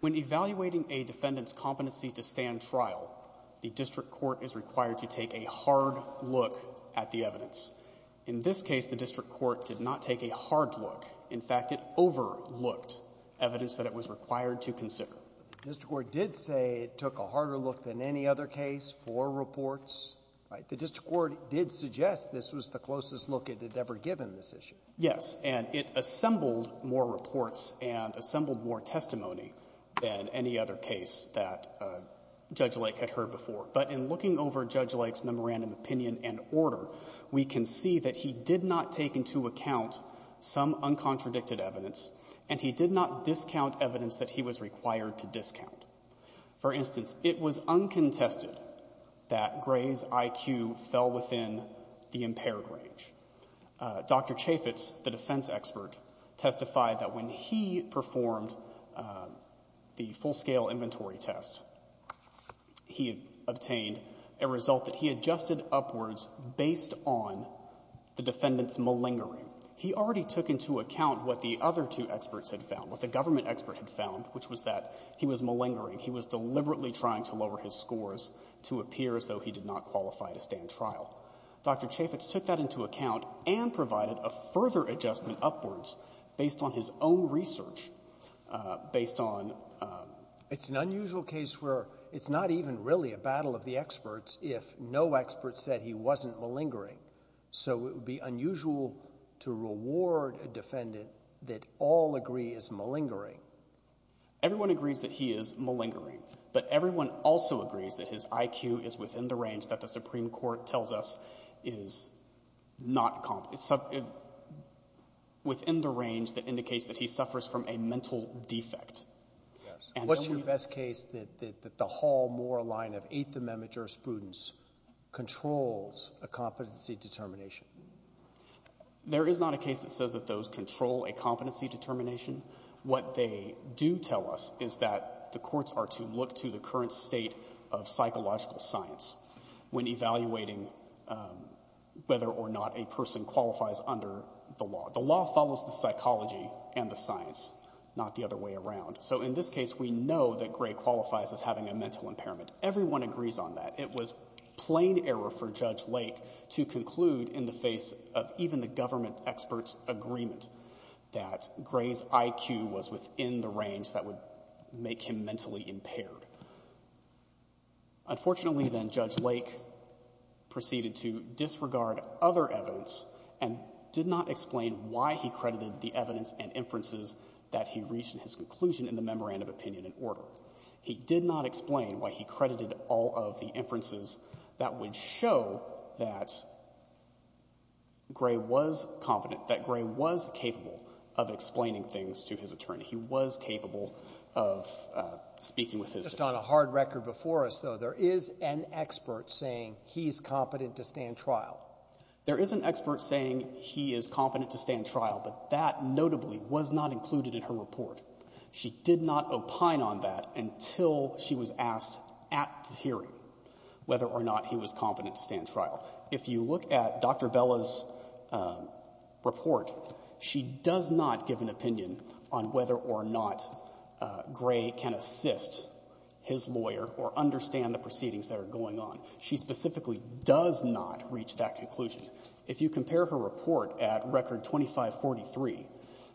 When evaluating a defendant's competency to stand trial, the district court is required to take a hard look at the evidence. In this case, the district court did not take a hard look. In fact, it overlooked evidence that it was required to consider. Breyer. The district court did say it took a harder look than any other case for reports. The district court did suggest this was the closest look it had ever given this issue. Sonny Pervis Yes. And it assembled more reports and assembled more testimony than any other case that Judge Lake had heard before. But in looking over Judge Lake's memorandum opinion and order, we can see that he did not take into account some uncontradicted evidence, and he did not discount evidence that he was required to discount. For instance, it was uncontested that Gray's IQ fell within the impaired range. Dr. Chaffetz, the defense expert, testified that when he performed the full-scale inventory test, he obtained a result that he adjusted upwards based on the defendant's malingering. He already took into account what the other two experts had found, what the government expert had found, which was that he was malingering. He was deliberately trying to lower his scores to appear as though he did not qualify to stand trial. Dr. Chaffetz took that into account and provided a further adjustment upwards based on his own research, based on the defendant's malingering. Roberts. It's an unusual case where it's not even really a battle of the experts if no expert said he wasn't malingering. So it would be unusual to reward a defendant that all agree is malingering. Everyone agrees that he is malingering, but everyone also agrees that his IQ is within the range that the Supreme Court tells us is not — within the range that indicates that he suffers from a mental defect. Yes. What's your best case that the Hall-Moore line of Eighth Amendment jurisprudence controls a competency determination? There is not a case that says that those control a competency determination. What they do tell us is that the courts are to look to the current state of psychological science when evaluating whether or not a person qualifies under the law. The law follows the psychology and the science, not the other way around. So in this case, we know that Gray qualifies as having a mental impairment. Everyone agrees on that. It was plain error for Judge Lake to conclude in the face of even the government experts' agreement that Gray's IQ was within the range that would make him mentally impaired. Unfortunately, then, Judge Lake proceeded to disregard other evidence and did not explain why he credited the evidence and inferences that he reached in his conclusion in the memorandum opinion and order. He did not explain why he credited all of the inferences that would show that Gray was competent, that Gray was capable of explaining things to his attorney. He was capable of speaking with his attorney. Just on a hard record before us, though, there is an expert saying he's competent to stand trial. There is an expert saying he is competent to stand trial, but that notably was not included in her report. She did not opine on that until she was asked at the hearing whether or not he was competent to stand trial. If you look at Dr. Bella's report, she does not give an opinion on whether or not Gray can assist his lawyer or understand the proceedings that are going on. She specifically does not reach that conclusion. If you compare her report at Record 2543,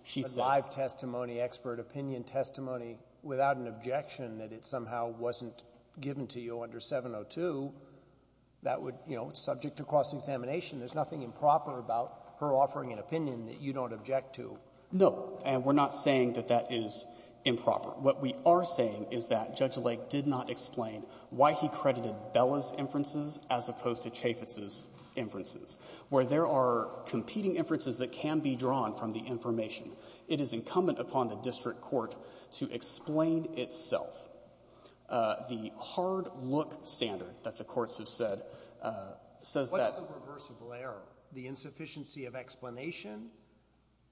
she says that Gray is competent to stand trial, but if you offer an expert opinion testimony without an objection that it somehow wasn't given to you under 702, that would, you know, subject to cross-examination. There's nothing improper about her offering an opinion that you don't object to. No. And we're not saying that that is improper. What we are saying is that Judge Lake did not explain why he credited Bella's inferences as opposed to Chaffetz's inferences, where there are competing inferences that can be drawn from the information. It is incumbent upon the district court to explain itself. The hard-look standard that the courts have said says that the — What's the reversible error? The insufficiency of explanation,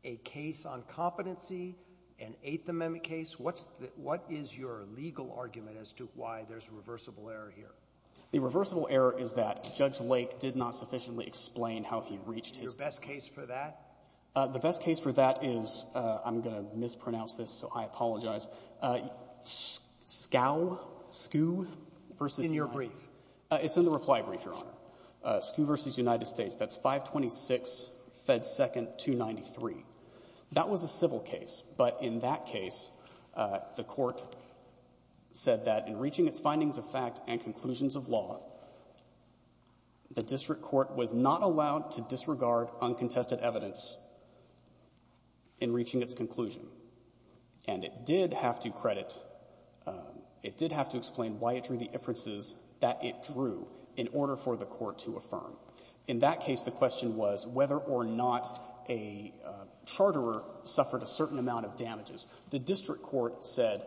a case on competency, an Eighth Amendment case? What's the — what is your legal argument as to why there's a reversible error here? The reversible error is that Judge Lake did not sufficiently explain how he reached his — Is there a best case for that? The best case for that is — I'm going to mispronounce this, so I apologize. Scow — Skoo v. — In your brief. It's in the reply brief, Your Honor. Skoo v. United States, that's 526 Fed 2nd 293. That was a civil case. But in that case, the Court said that in reaching its findings of fact and conclusions of law, the district court was not allowed to disregard uncontested evidence in reaching its conclusion. And it did have to credit — it did have to explain why it drew the inferences that it drew in order for the court to affirm. In that case, the question was whether or not a charterer suffered a certain amount of damages. The district court said,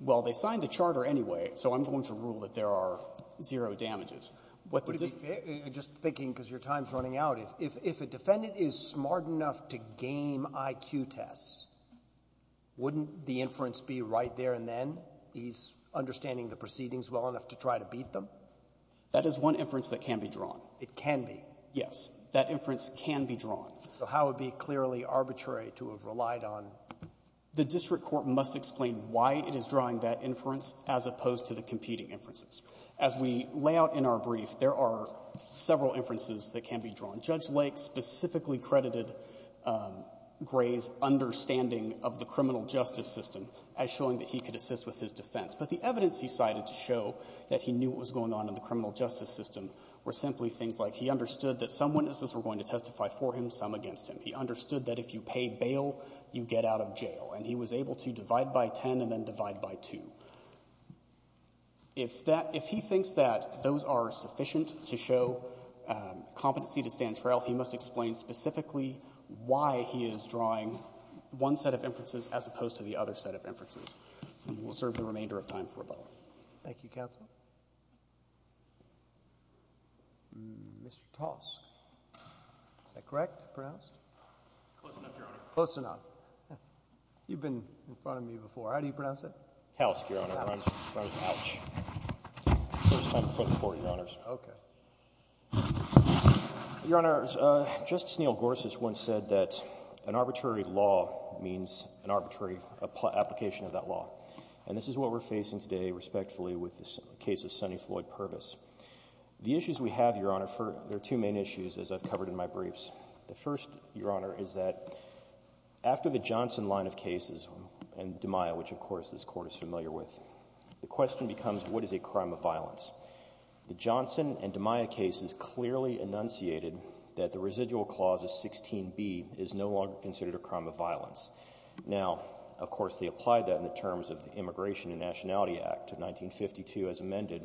well, they signed the charter anyway, so I'm going to rule that there are zero damages. What the — Would it be — just thinking, because your time's running out, if a defendant is smart enough to game IQ tests, wouldn't the inference be right there and then? He's understanding the proceedings well enough to try to beat them? That is one inference that can be drawn. It can be? Yes. That inference can be drawn. So how would it be clearly arbitrary to have relied on — The district court must explain why it is drawing that inference as opposed to the competing inferences. As we lay out in our brief, there are several inferences that can be drawn. Judge Lake specifically credited Gray's understanding of the criminal justice system as showing that he could assist with his defense. But the evidence he cited to show that he knew what was going on in the criminal justice system were simply things like he understood that some witnesses were going to testify for him, some against him. He understood that if you pay bail, you get out of jail. And he was able to divide by 10 and then divide by 2. If that — if he thinks that those are sufficient to show competency to stand trail, he must explain specifically why he is drawing one set of inferences as opposed to the other set of inferences. And we'll serve the remainder of time for rebuttal. Thank you, counsel. Mr. Tosk, is that correct, pronounced? Close enough, Your Honor. Close enough. You've been in front of me before. How do you pronounce that? Tosk, Your Honor. Ouch. First time in front of the Court, Your Honors. Okay. Your Honors, Justice Neal Gorsuch once said that an arbitrary law means an arbitrary application of that law. And this is what we're facing today, respectfully, with the case of Sonny Floyd Purvis. The issues we have, Your Honor, there are two main issues, as I've covered in my briefs. The first, Your Honor, is that after the Johnson line of cases and DeMaio, which I, of course, this Court is familiar with, the question becomes what is a crime of violence? The Johnson and DeMaio cases clearly enunciated that the residual clause of 16b is no longer considered a crime of violence. Now, of course, they apply that in the terms of the Immigration and Nationality Act of 1952 as amended.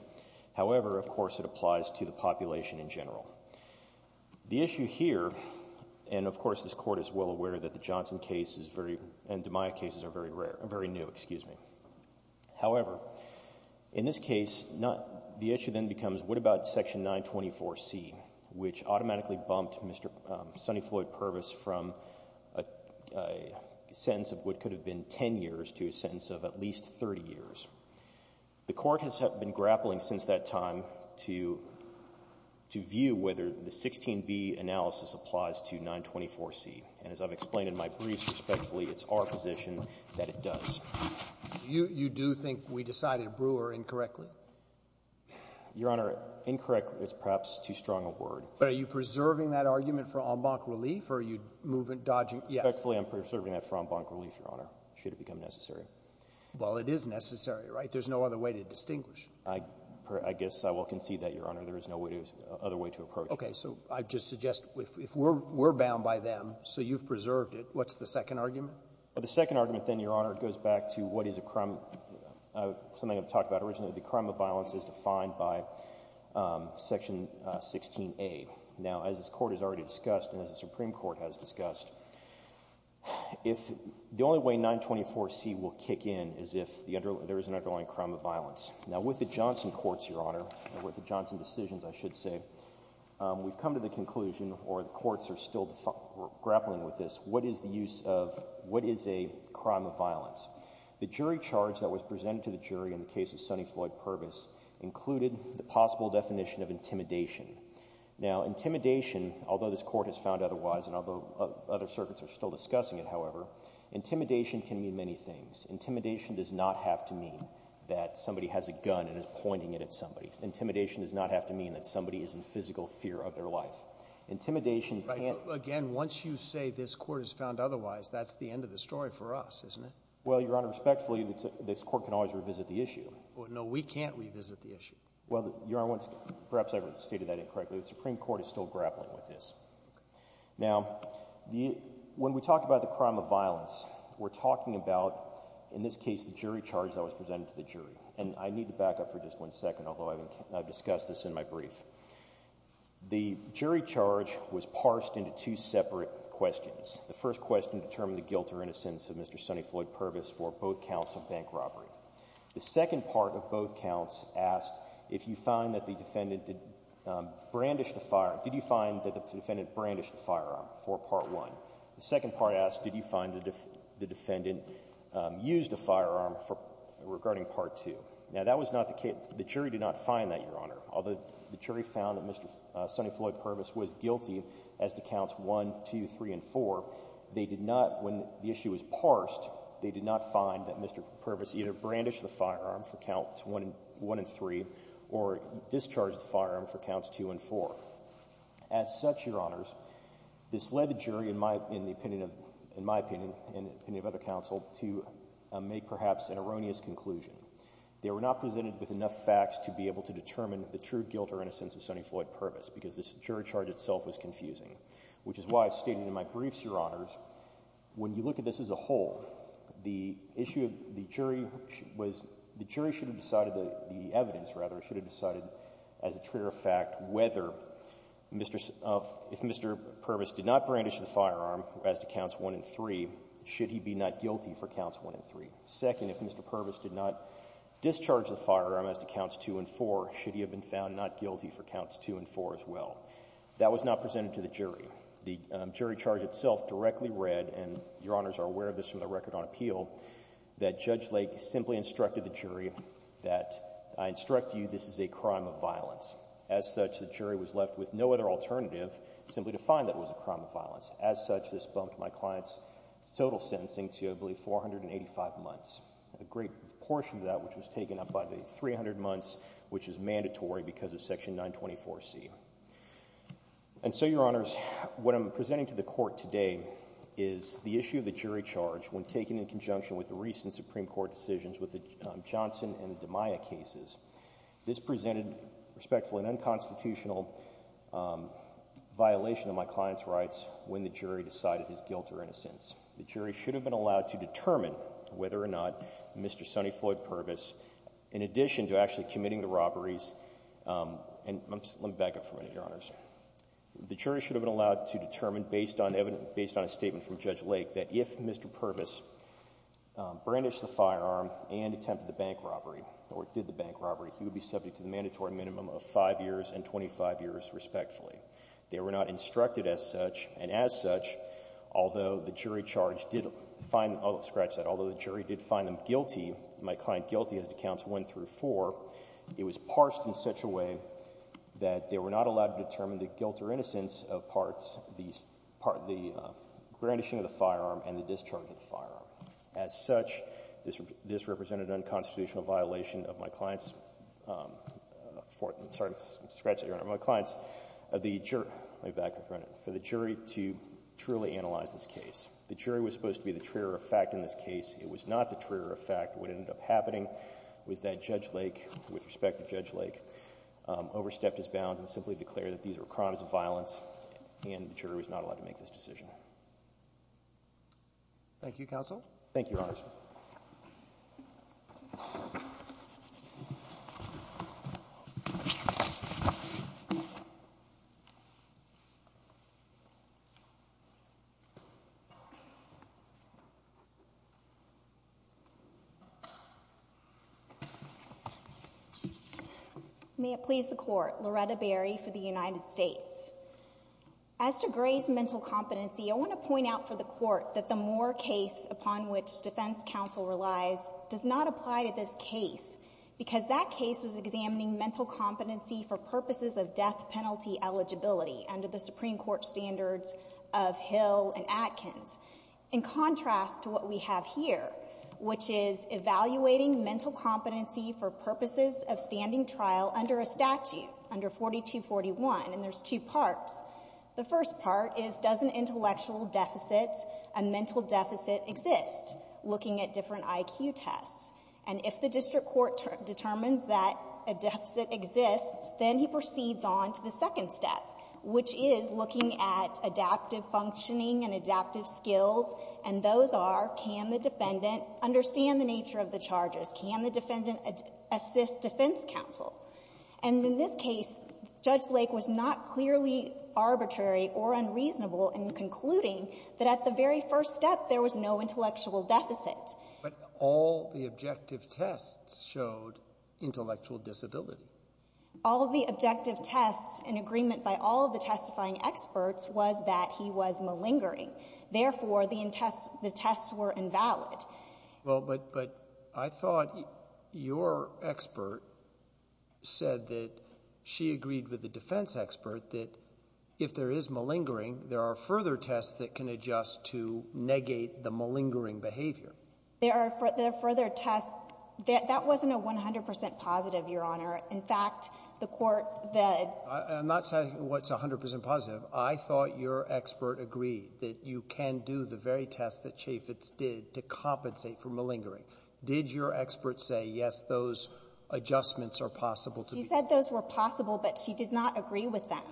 However, of course, it applies to the population in general. The issue here, and of course this Court is well aware that the Johnson case is very new, excuse me. However, in this case, the issue then becomes what about section 924C, which automatically bumped Sonny Floyd Purvis from a sentence of what could have been 10 years to a sentence of at least 30 years? The Court has been grappling since that time to view whether the 16b analysis applies to 924C. And as I've explained in my briefs, respectfully, it's our position that it does. Do you do think we decided Brewer incorrectly? Your Honor, incorrectly is perhaps too strong a word. But are you preserving that argument for en banc relief, or are you dodging? Respectfully, I'm preserving that for en banc relief, Your Honor, should it become necessary. Well, it is necessary, right? There's no other way to distinguish. I guess I will concede that, Your Honor. There is no other way to approach it. Okay. So I just suggest if we're bound by them, so you've preserved it, what's the second argument? Well, the second argument then, Your Honor, goes back to what is a crime of — something I've talked about originally. The crime of violence is defined by section 16a. Now, as this Court has already discussed and as the Supreme Court has discussed, the only way 924C will kick in is if there is an underlying crime of violence. Now, with the Johnson courts, Your Honor, or with the Johnson decisions, I should say, we've come to the conclusion, or the courts are still grappling with this, what is the use of — what is a crime of violence? The jury charge that was presented to the jury in the case of Sonny Floyd Purvis included the possible definition of intimidation. Now, intimidation, although this Court has found otherwise and although other circuits are still discussing it, however, intimidation can mean many things. Intimidation does not have to mean that somebody has a gun and is pointing it at somebody. Intimidation does not have to mean that somebody is in physical fear of their life. Intimidation can't — Right. But again, once you say this Court has found otherwise, that's the end of the story for us, isn't it? Well, Your Honor, respectfully, this Court can always revisit the issue. Well, no, we can't revisit the issue. Well, Your Honor, perhaps I've stated that incorrectly. The Supreme Court is still grappling with this. Okay. Now, when we talk about the crime of violence, we're talking about, in this case, the jury charge that was presented to the jury. And I need to back up for just one second, although I've discussed this in my brief. The jury charge was parsed into two separate questions. The first question determined the guilt or innocence of Mr. Sonny Floyd Purvis for both counts of bank robbery. The second part of both counts asked if you find that the defendant brandished a firearm for Part 1. The second part asked did you find that the defendant used a firearm for — regarding Part 2. Now, that was not the case — the jury did not find that, Your Honor. Although the jury found that Mr. Sonny Floyd Purvis was guilty as to counts 1, 2, 3, and 4, they did not — when the issue was parsed, they did not find that Mr. Purvis either brandished the firearm for counts 1 and 3 or discharged the firearm for counts 2 and 4. As such, Your Honors, this led the jury, in my opinion, in the opinion of other counsel, to make perhaps an erroneous conclusion. They were not presented with enough facts to be able to determine the true guilt or innocence of Sonny Floyd Purvis because this jury charge itself was confusing, which is why I stated in my briefs, Your Honors, when you look at this as a whole, the issue of the jury was — the jury should have decided — the evidence, rather, should have decided as a trigger of fact whether Mr. — if Mr. Purvis did not brandish the firearm as to counts 1 and 3, should he be not guilty for counts 1 and 3? Second, if Mr. Purvis did not discharge the firearm as to counts 2 and 4, should he have been found not guilty for counts 2 and 4 as well? That was not presented to the jury. The jury charge itself directly read — and Your Honors are aware of this from the Record on Appeal — that Judge Lake simply instructed the jury that, I instruct you, this is a crime of violence. As such, the jury was left with no other alternative simply to find that it was a crime of violence. As such, this bumped my client's total sentencing to, I believe, 485 months. A great portion of that which was taken up by the 300 months, which is mandatory because of Section 924C. And so, Your Honors, what I'm presenting to the Court today is the issue of the jury charge when taken in conjunction with the recent Supreme Court decisions with the Maya cases. This presented, respectfully, an unconstitutional violation of my client's rights when the jury decided his guilt or innocence. The jury should have been allowed to determine whether or not Mr. Sonny Floyd Purvis, in addition to actually committing the robberies — let me back up for a minute, Your Honors. The jury should have been allowed to determine, based on a statement from Judge Lake, that if Mr. Purvis brandished the firearm and attempted the bank robbery, or did the bank robbery, he would be subject to the mandatory minimum of 5 years and 25 years, respectfully. They were not instructed as such. And as such, although the jury charge did — I'll scratch that — although the jury did find them guilty, my client guilty as it accounts 1 through 4, it was parsed in such a way that they were not allowed to determine the guilt or innocence of parts of the crime. As such, this represented an unconstitutional violation of my client's — sorry to scratch that, Your Honor — of my client's — let me back up for a minute — for the jury to truly analyze this case. The jury was supposed to be the trigger of fact in this case. It was not the trigger of fact. What ended up happening was that Judge Lake, with respect to Judge Lake, overstepped his bounds and simply declared that these were crimes of violence and the jury was not allowed to make this decision. Thank you. Thank you, Counsel. Thank you, Your Honor. May it please the Court. Loretta Berry for the United States. As to Gray's mental competency, I want to point out for the Court that the Moore case upon which defense counsel relies does not apply to this case because that case was examining mental competency for purposes of death penalty eligibility under the Supreme Court standards of Hill and Atkins, in contrast to what we have here, which is evaluating mental competency for purposes of standing trial under a statute, under 4241. And there's two parts. The first part is, does an intellectual deficit, a mental deficit, exist, looking at different IQ tests? And if the district court determines that a deficit exists, then he proceeds on to the second step, which is looking at adaptive functioning and adaptive skills. And those are, can the defendant understand the nature of the charges? Can the defendant assist defense counsel? And in this case, Judge Lake was not clearly arbitrary or unreasonable in concluding that at the very first step, there was no intellectual deficit. But all the objective tests showed intellectual disability. All of the objective tests, in agreement by all of the testifying experts, was that he was malingering. Therefore, the tests were invalid. Well, but I thought your expert said that she agreed with the defense expert that if there is malingering, there are further tests that can adjust to negate the malingering behavior. There are further tests. That wasn't a 100 percent positive, Your Honor. In fact, the court that ---- I'm not saying what's 100 percent positive. I thought your expert agreed that you can do the very test that Chaffetz did to compensate for malingering. Did your expert say, yes, those adjustments are possible to do? She said those were possible, but she did not agree with them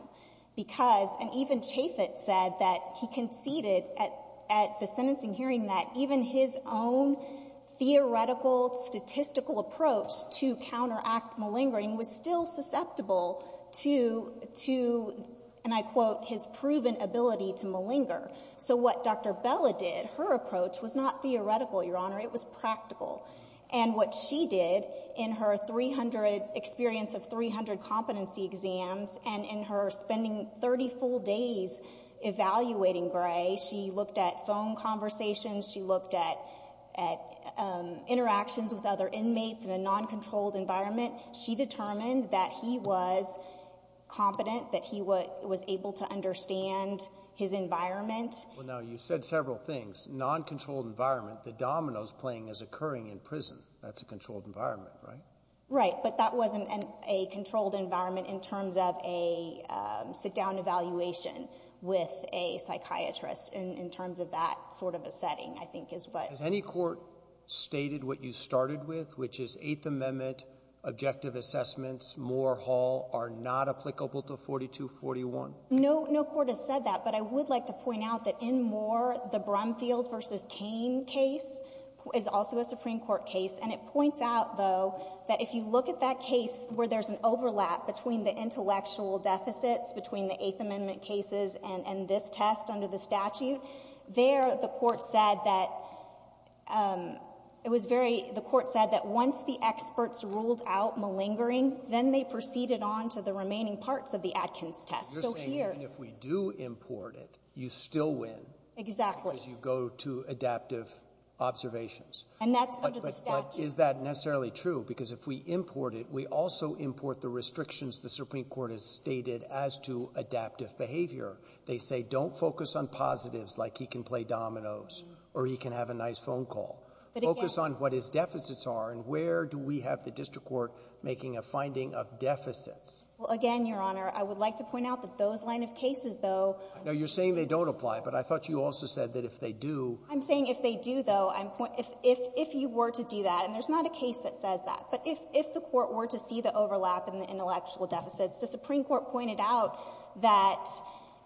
because ---- and even Chaffetz said that he conceded at the sentencing hearing that even his own theoretical, statistical approach to counteract malingering was still susceptible to, to, and I quote, his proven ability to malinger. So what Dr. Bella did, her approach was not theoretical, Your Honor. It was practical. And what she did in her 300 ---- experience of 300 competency exams and in her spending 30 full days evaluating Gray, she looked at phone conversations. She looked at, at interactions with other inmates in a noncontrolled environment. She determined that he was competent, that he was able to understand his environment. Well, now, you said several things. Noncontrolled environment. The dominoes playing is occurring in prison. That's a controlled environment, right? Right. But that wasn't a controlled environment in terms of a sit-down evaluation with a psychiatrist in, in terms of that sort of a setting, I think is what ---- Has any court stated what you started with, which is Eighth Amendment objective assessments, Moore Hall, are not applicable to 4241? No, no court has said that. But I would like to point out that in Moore, the Brumfield v. Cain case is also a Supreme Court case. And it points out, though, that if you look at that case where there's an overlap between the intellectual deficits, between the Eighth Amendment cases and, and this test under the statute, there the Court said that it was very ---- the Court said that once the experts ruled out malingering, then they proceeded on to the remaining parts of the Atkins test. So here ---- You're saying even if we do import it, you still win. Exactly. Because you go to adaptive observations. And that's under the statute. But, but, but is that necessarily true? Because if we import it, we also import the restrictions the Supreme Court has stated as to adaptive behavior. They say don't focus on positives like he can play dominoes or he can have a nice phone call. But again ---- Focus on what his deficits are. And where do we have the district court making a finding of deficits? Well, again, Your Honor, I would like to point out that those line of cases, though ---- No, you're saying they don't apply. But I thought you also said that if they do ---- I'm saying if they do, though, I'm ---- if, if, if you were to do that, and there's not a case that says that, but if, if the Court were to see the overlap in the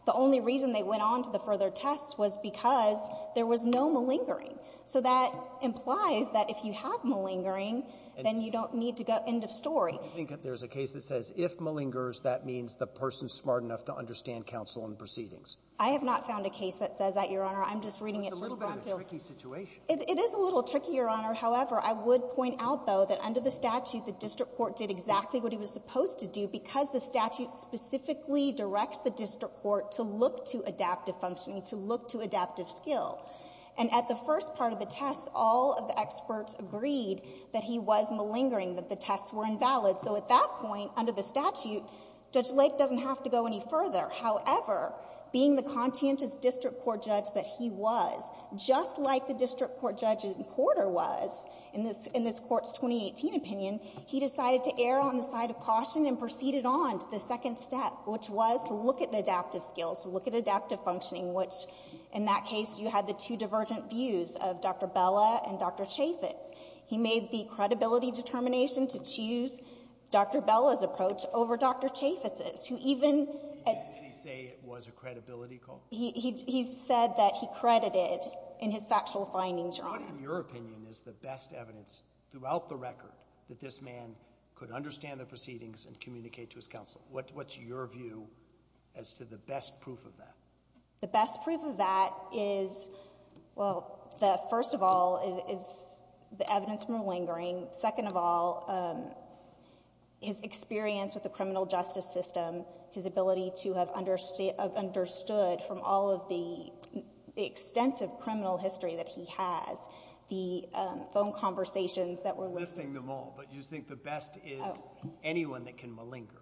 The only reason they went on to the further test was because there was no malingering. So that implies that if you have malingering, then you don't need to go end of story. I think that there's a case that says if malingers, that means the person's smart enough to understand counsel and proceedings. I have not found a case that says that, Your Honor. I'm just reading it from Brownfield. It's a little bit of a tricky situation. It, it is a little tricky, Your Honor. However, I would point out, though, that under the statute, the district court did exactly what he was supposed to do because the statute specifically directs the district court to look to adaptive functioning, to look to adaptive skill. And at the first part of the test, all of the experts agreed that he was malingering, that the tests were invalid. So at that point, under the statute, Judge Lake doesn't have to go any further. However, being the conscientious district court judge that he was, just like the district court judge in Porter was, in this, in this Court's 2018 opinion, he decided to err on the side of caution and proceeded on to the second step, which was to look at adaptive skills, to look at adaptive functioning, which, in that case, you had the two divergent views of Dr. Bella and Dr. Chaffetz. He made the credibility determination to choose Dr. Bella's approach over Dr. Chaffetz's, who even at... Did he say it was a credibility call? He, he, he said that he credited in his factual findings, Your Honor. What, in your opinion, is the best evidence throughout the record that this man could understand the proceedings and communicate to his counsel? What, what's your view as to the best proof of that? The best proof of that is, well, the first of all is, is the evidence malingering. Second of all, his experience with the criminal justice system, his ability to have understood from all of the, the extensive criminal history that he has, the phone conversations that were listed... Listing them all, but you think the best is anyone that can malinger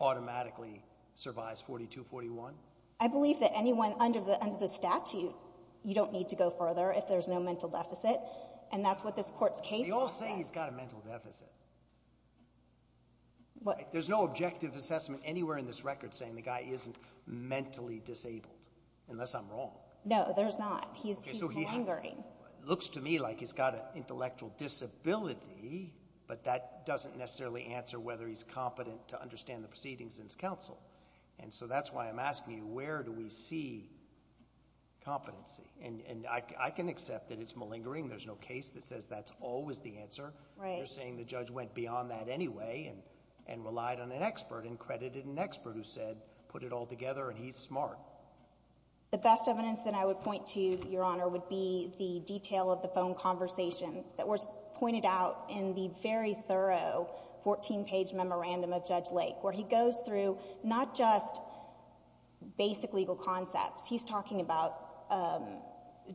automatically survives 42-41? I believe that anyone under the, under the statute, you don't need to go further if there's no mental deficit, and that's what this Court's case... They all say he's got a mental deficit. What... There's no objective assessment anywhere in this record saying the guy isn't mentally disabled, unless I'm wrong. No, there's not. He's, he's malingering. Okay, so he looks to me like he's got an intellectual disability, but that doesn't necessarily answer whether he's competent to understand the proceedings in his counsel, and so that's why I'm asking you, where do we see competency? And, and I, I can accept that it's malingering. There's no case that says that's always the answer. Right. But you're saying the judge went beyond that anyway and, and relied on an expert and credited an expert who said, put it all together and he's smart. The best evidence that I would point to, Your Honor, would be the detail of the phone conversations that were pointed out in the very thorough 14 page memorandum of Judge Lake, where he goes through not just basic legal concepts. He's talking about, um,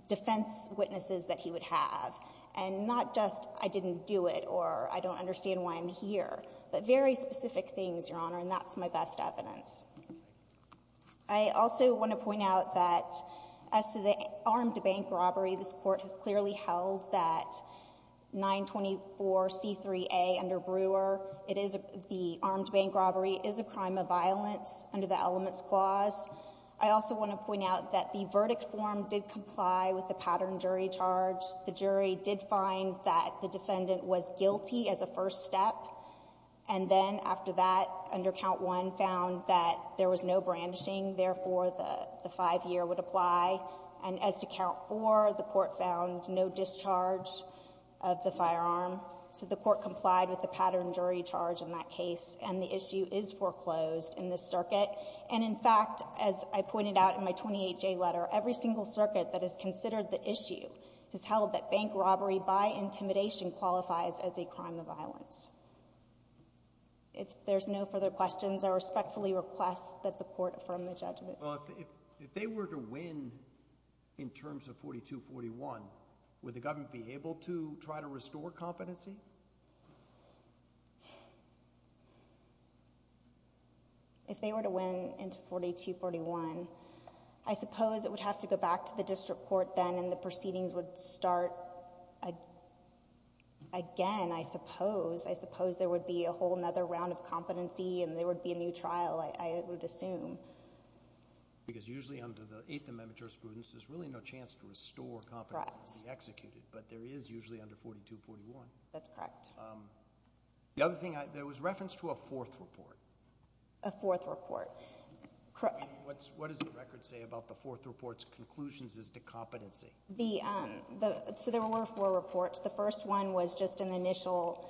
defense witnesses that he would have, and not just, I didn't do it or I don't understand why I'm here, but very specific things, Your Honor, and that's my best evidence. I also want to point out that as to the armed bank robbery, this court has clearly held that 924C3A under Brewer, it is, the armed bank robbery is a crime of violence under the Elements Clause. I also want to point out that the verdict form did comply with the pattern jury charge. The jury did find that the defendant was guilty as a first step, and then after that, under count one, found that there was no brandishing. Therefore, the five year would apply. And as to count four, the court found no discharge of the firearm. So the court complied with the pattern jury charge in that case, and the issue is foreclosed in this circuit. And in fact, as I pointed out in my 28-J letter, every single circuit that has held that bank robbery by intimidation qualifies as a crime of violence. If there's no further questions, I respectfully request that the court affirm the judgment. Well, if they were to win in terms of 4241, would the government be able to try to restore competency? If they were to win in 4241, I suppose it would have to go back to the court again, I suppose. I suppose there would be a whole other round of competency, and there would be a new trial, I would assume. Because usually under the Eighth Amendment jurisprudence, there's really no chance to restore competency to be executed. Correct. But there is usually under 4241. That's correct. The other thing, there was reference to a fourth report. A fourth report. What does the record say about the fourth report's conclusions as to competency? So there were four reports. The first one was just an initial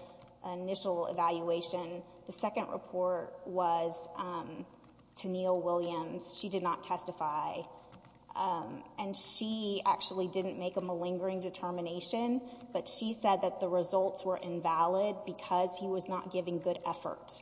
evaluation. The second report was to Neal Williams. She did not testify. And she actually didn't make a malingering determination, but she said that the results were invalid because he was not giving good effort,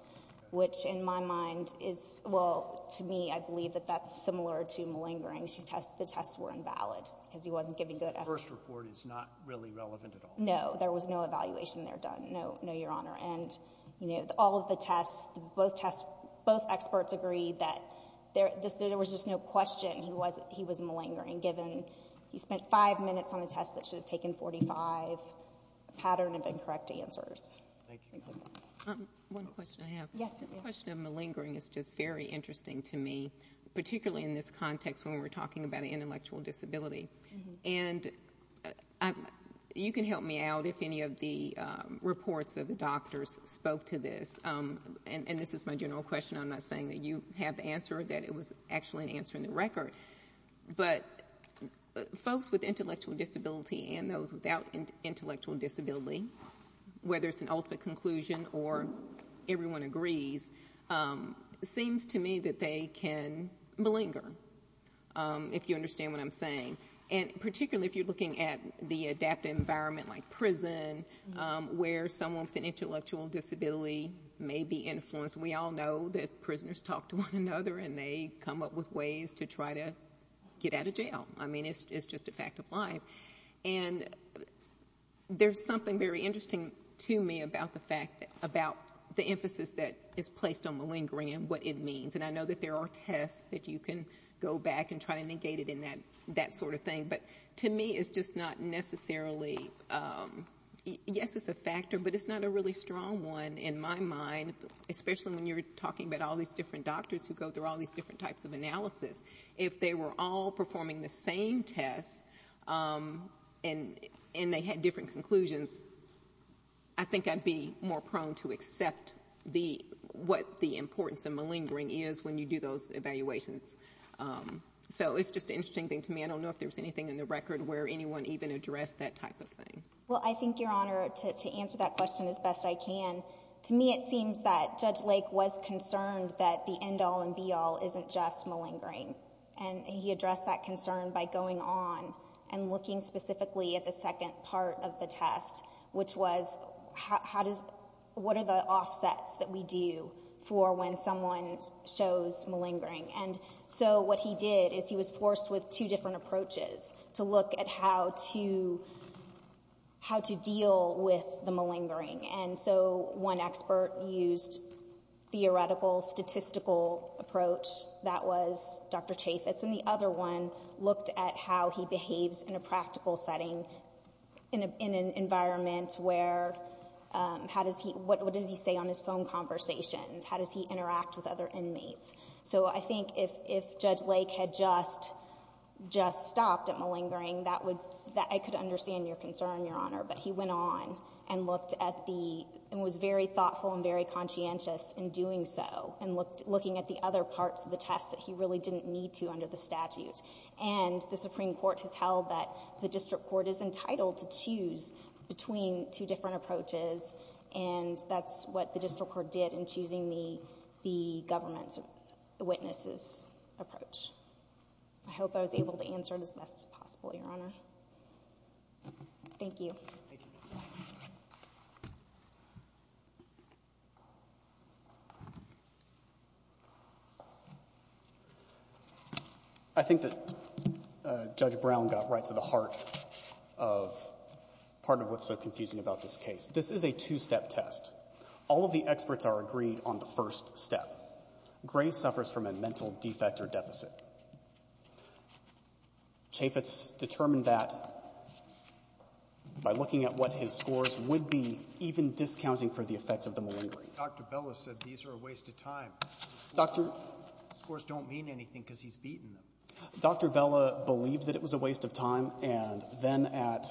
which in my mind is, well, to me, I believe that that's similar to malingering. The tests were invalid because he wasn't giving good effort. The first report is not really relevant at all. No. There was no evaluation there done. No, Your Honor. And, you know, all of the tests, both tests, both experts agreed that there was just no question he was malingering given he spent five minutes on a test that should have taken 45, a pattern of incorrect answers. Thank you. One question I have. Yes. This question of malingering is just very interesting to me, particularly in this context when we're talking about an intellectual disability. And you can help me out if any of the reports of the doctors spoke to this. And this is my general question. I'm not saying that you have the answer or that it was actually an answer in the record. But folks with intellectual disability and those without intellectual disability, whether it's an ultimate conclusion or everyone agrees, seems to me that they can malinger, if you understand what I'm saying. And particularly if you're looking at the adaptive environment like prison, where someone with an intellectual disability may be influenced. We all know that prisoners talk to one another and they come up with ways to try to get out of jail. I mean, it's just a fact of life. And there's something very interesting to me about the fact, about the things, and I know that there are tests that you can go back and try to negate it in that sort of thing. But to me, it's just not necessarily, yes, it's a factor, but it's not a really strong one in my mind, especially when you're talking about all these different doctors who go through all these different types of analysis. If they were all performing the same tests and they had different conclusions, I think I'd be more prone to accept what the importance of the testing is when you do those evaluations. So it's just an interesting thing to me. I don't know if there's anything in the record where anyone even addressed that type of thing. Well, I think, Your Honor, to answer that question as best I can, to me, it seems that Judge Lake was concerned that the end-all and be-all isn't just malingering. And he addressed that concern by going on and looking specifically at the second part of the test, which was what are the offsets that we do for when someone shows malingering. And so what he did is he was forced with two different approaches to look at how to deal with the malingering. And so one expert used theoretical, statistical approach. That was Dr. Chaffetz. And the other one looked at how he behaves in a practical setting in an environment where, what does he say on his phone conversations? How does he interact with other inmates? So I think if Judge Lake had just stopped at malingering, that I could understand your concern, Your Honor. But he went on and looked at the, and was very thoughtful and very conscientious in doing so and looking at the other parts of the test that he really didn't need to under the statute. And the Supreme Court has held that the District Court is entitled to choose between two different approaches. And that's what the District Court did in choosing the government's, the witnesses' approach. I hope I was able to answer it as best as possible, Your Honor. Thank you. I think that Judge Brown got right to the heart of part of what's so confusing about this case. This is a two-step test. All of the experts are agreed on the first step. Gray suffers from a mental defect or deficit. Chaffetz determined that by looking at what his scores would be, even discounting for the effects of the malingering. Dr. Bella said these are a waste of time. Dr. Scores don't mean anything because he's beaten them. Dr. Bella believed that it was a waste of time. And then at,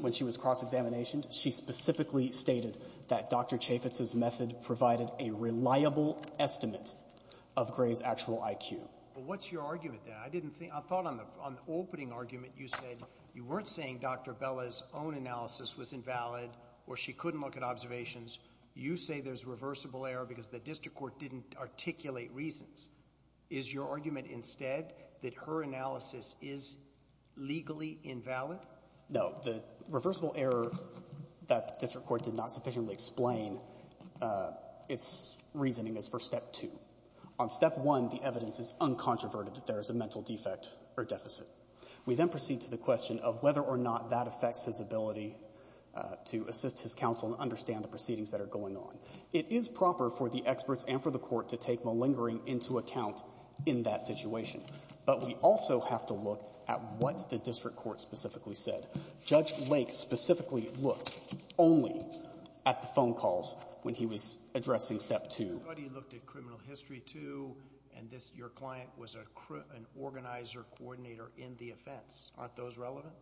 when she was cross-examinationed, she specifically stated that Dr. Chaffetz's method provided a reliable estimate of Gray's actual IQ. What's your argument there? I thought on the opening argument you said you weren't saying Dr. Bella's own analysis was invalid or she couldn't look at observations. You say there's reversible error because the District Court didn't articulate reasons. Is your argument instead that her analysis is legally invalid? No. The reversible error that the District Court did not sufficiently explain its reasoning is for step two. On step one, the evidence is uncontroverted that there is a mental defect or deficit. We then proceed to the question of whether or not that affects his ability to assist his counsel and understand the proceedings that are going on. It is proper for the experts and for the court to take malingering into account in that situation. But we also have to look at what the District Court specifically said. Judge Lake specifically looked only at the phone calls when he was addressing step two. I thought he looked at criminal history too and your client was an organizer, coordinator in the offense. Aren't those relevant?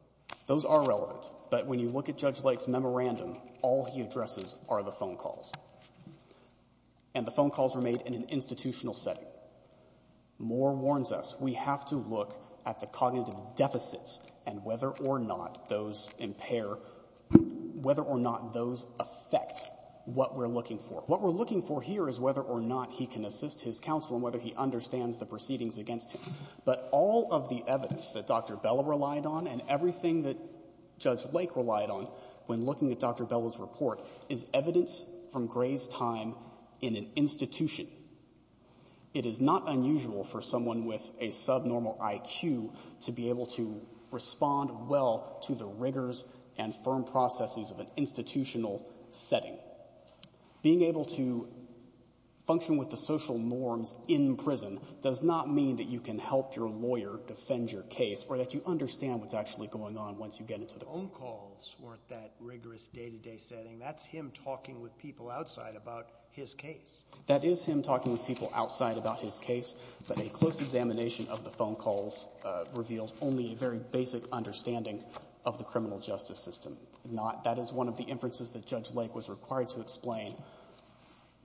Those are relevant. But when you look at Judge Lake's memorandum, all he addresses are the phone calls. And the phone calls were made in an institutional setting. Moore warns us, we have to look at the cognitive deficits and whether or not those impair, whether or not those affect what we're looking for. What we're looking for here is whether or not he can assist his counsel and whether he understands the proceedings against him. But all of the evidence that Dr. Bella relied on and everything that Judge Lake relied on when looking at Dr. Bella's report is evidence from Gray's time in an institution. It is not unusual for someone with a subnormal IQ to be able to respond well to the rigors and firm processes of an institutional setting. Being able to function with the social norms in prison does not mean that you can help your lawyer defend your case or that you understand what's actually going on once you get into the court. The phone calls weren't that rigorous day-to-day setting. That's him talking with people outside about his case. That is him talking with people outside about his case. But a close examination of the phone calls reveals only a very basic understanding of the criminal justice system. That is one of the inferences that Judge Lake was required to explain.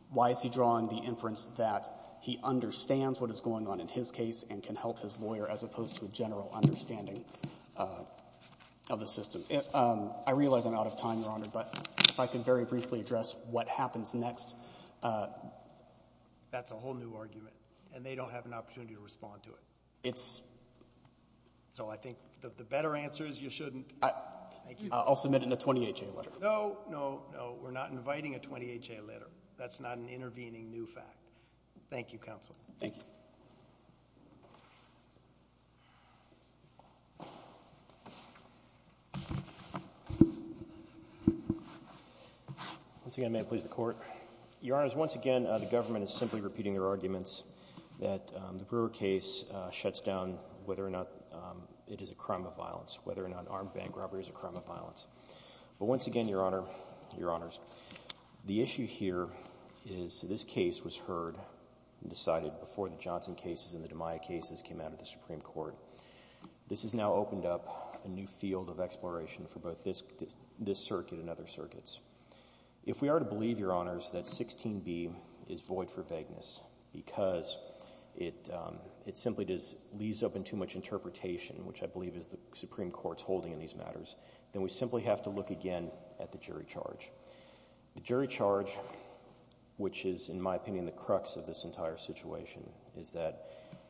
Why is he drawing the inference that he understands what is going on in his case and can help his lawyer as opposed to a general understanding of the system. Thank you. I realize I'm out of time, Your Honor, but if I can very briefly address what happens next. That's a whole new argument. And they don't have an opportunity to respond to it. So I think the better answer is you shouldn't. I'll submit it in a 28-J letter. No, no, no. We're not inviting a 28-J letter. That's not an intervening new fact. Thank you, Counsel. Thank you. Once again, may it please the Court. Your Honors, once again, the government is simply repeating their arguments that the Brewer case shuts down whether or not it is a crime of violence, whether or not armed bank robbery is a crime of violence. But once again, Your Honor, Your Honors, the issue here is this case was heard and decided before the Johnson cases and the DiMaio cases came out of the Supreme Court. This has now opened up a new field of exploration for both this circuit and other circuits. If we are to believe, Your Honors, that 16B is void for vagueness because it simply leaves open too much interpretation, which I believe is the Supreme Court's holding in these matters, then we simply have to look again at the jury charge. The jury charge, which is, in my opinion, the crux of this entire situation, is that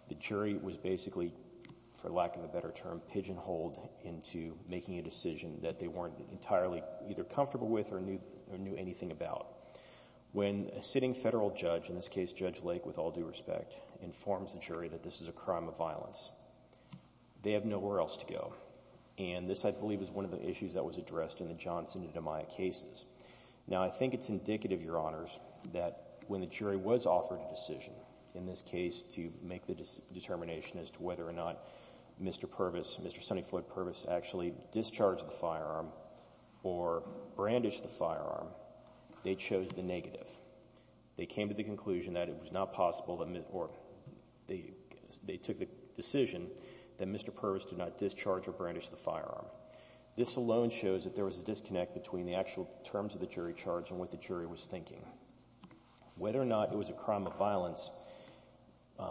the jury was basically, for lack of a better term, pigeonholed into making a decision that they weren't entirely either comfortable with or knew anything about. When a sitting federal judge, in this case Judge Lake with all due respect, informs the jury that this is a crime of violence, they have nowhere else to go. And this, I believe, is one of the issues that was addressed in the Johnson and DiMaio cases. Now, I think it's indicative, Your Honors, that when the jury was offered a case to make the determination as to whether or not Mr. Purvis, Mr. Sonny Floyd Purvis, actually discharged the firearm or brandished the firearm, they chose the negative. They came to the conclusion that it was not possible or they took the decision that Mr. Purvis did not discharge or brandish the firearm. This alone shows that there was a disconnect between the actual terms of the jury charge and what the jury was thinking. Whether or not it was a crime of violence,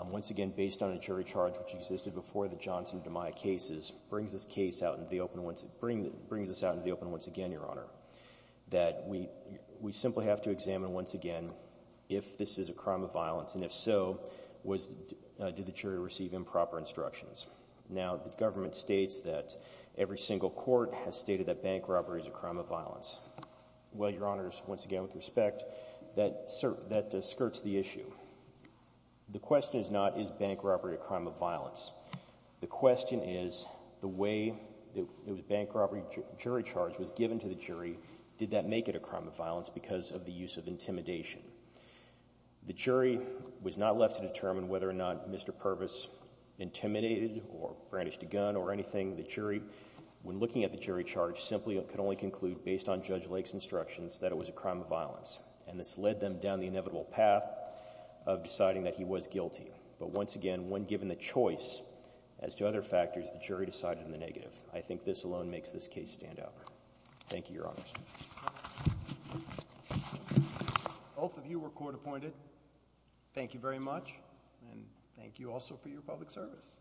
once again, based on a jury charge which existed before the Johnson and DiMaio cases, brings this case out into the open once again, Your Honor. That we simply have to examine, once again, if this is a crime of violence. And if so, did the jury receive improper instructions? Now, the government states that every single court has stated that bank robbery is a crime of violence. Well, Your Honors, once again, with respect, that skirts the issue. The question is not, is bank robbery a crime of violence? The question is, the way the bank robbery jury charge was given to the jury, did that make it a crime of violence because of the use of intimidation? The jury was not left to determine whether or not Mr. Purvis intimidated or brandished a gun or anything. The jury, when looking at the jury charge, simply could only conclude based on Judge Lake's instructions that it was a crime of violence. And this led them down the inevitable path of deciding that he was guilty. But once again, when given the choice as to other factors, the jury decided on the negative. I think this alone makes this case stand out. Thank you, Your Honors. Both of you were court appointed. Thank you very much. And thank you also for your public service.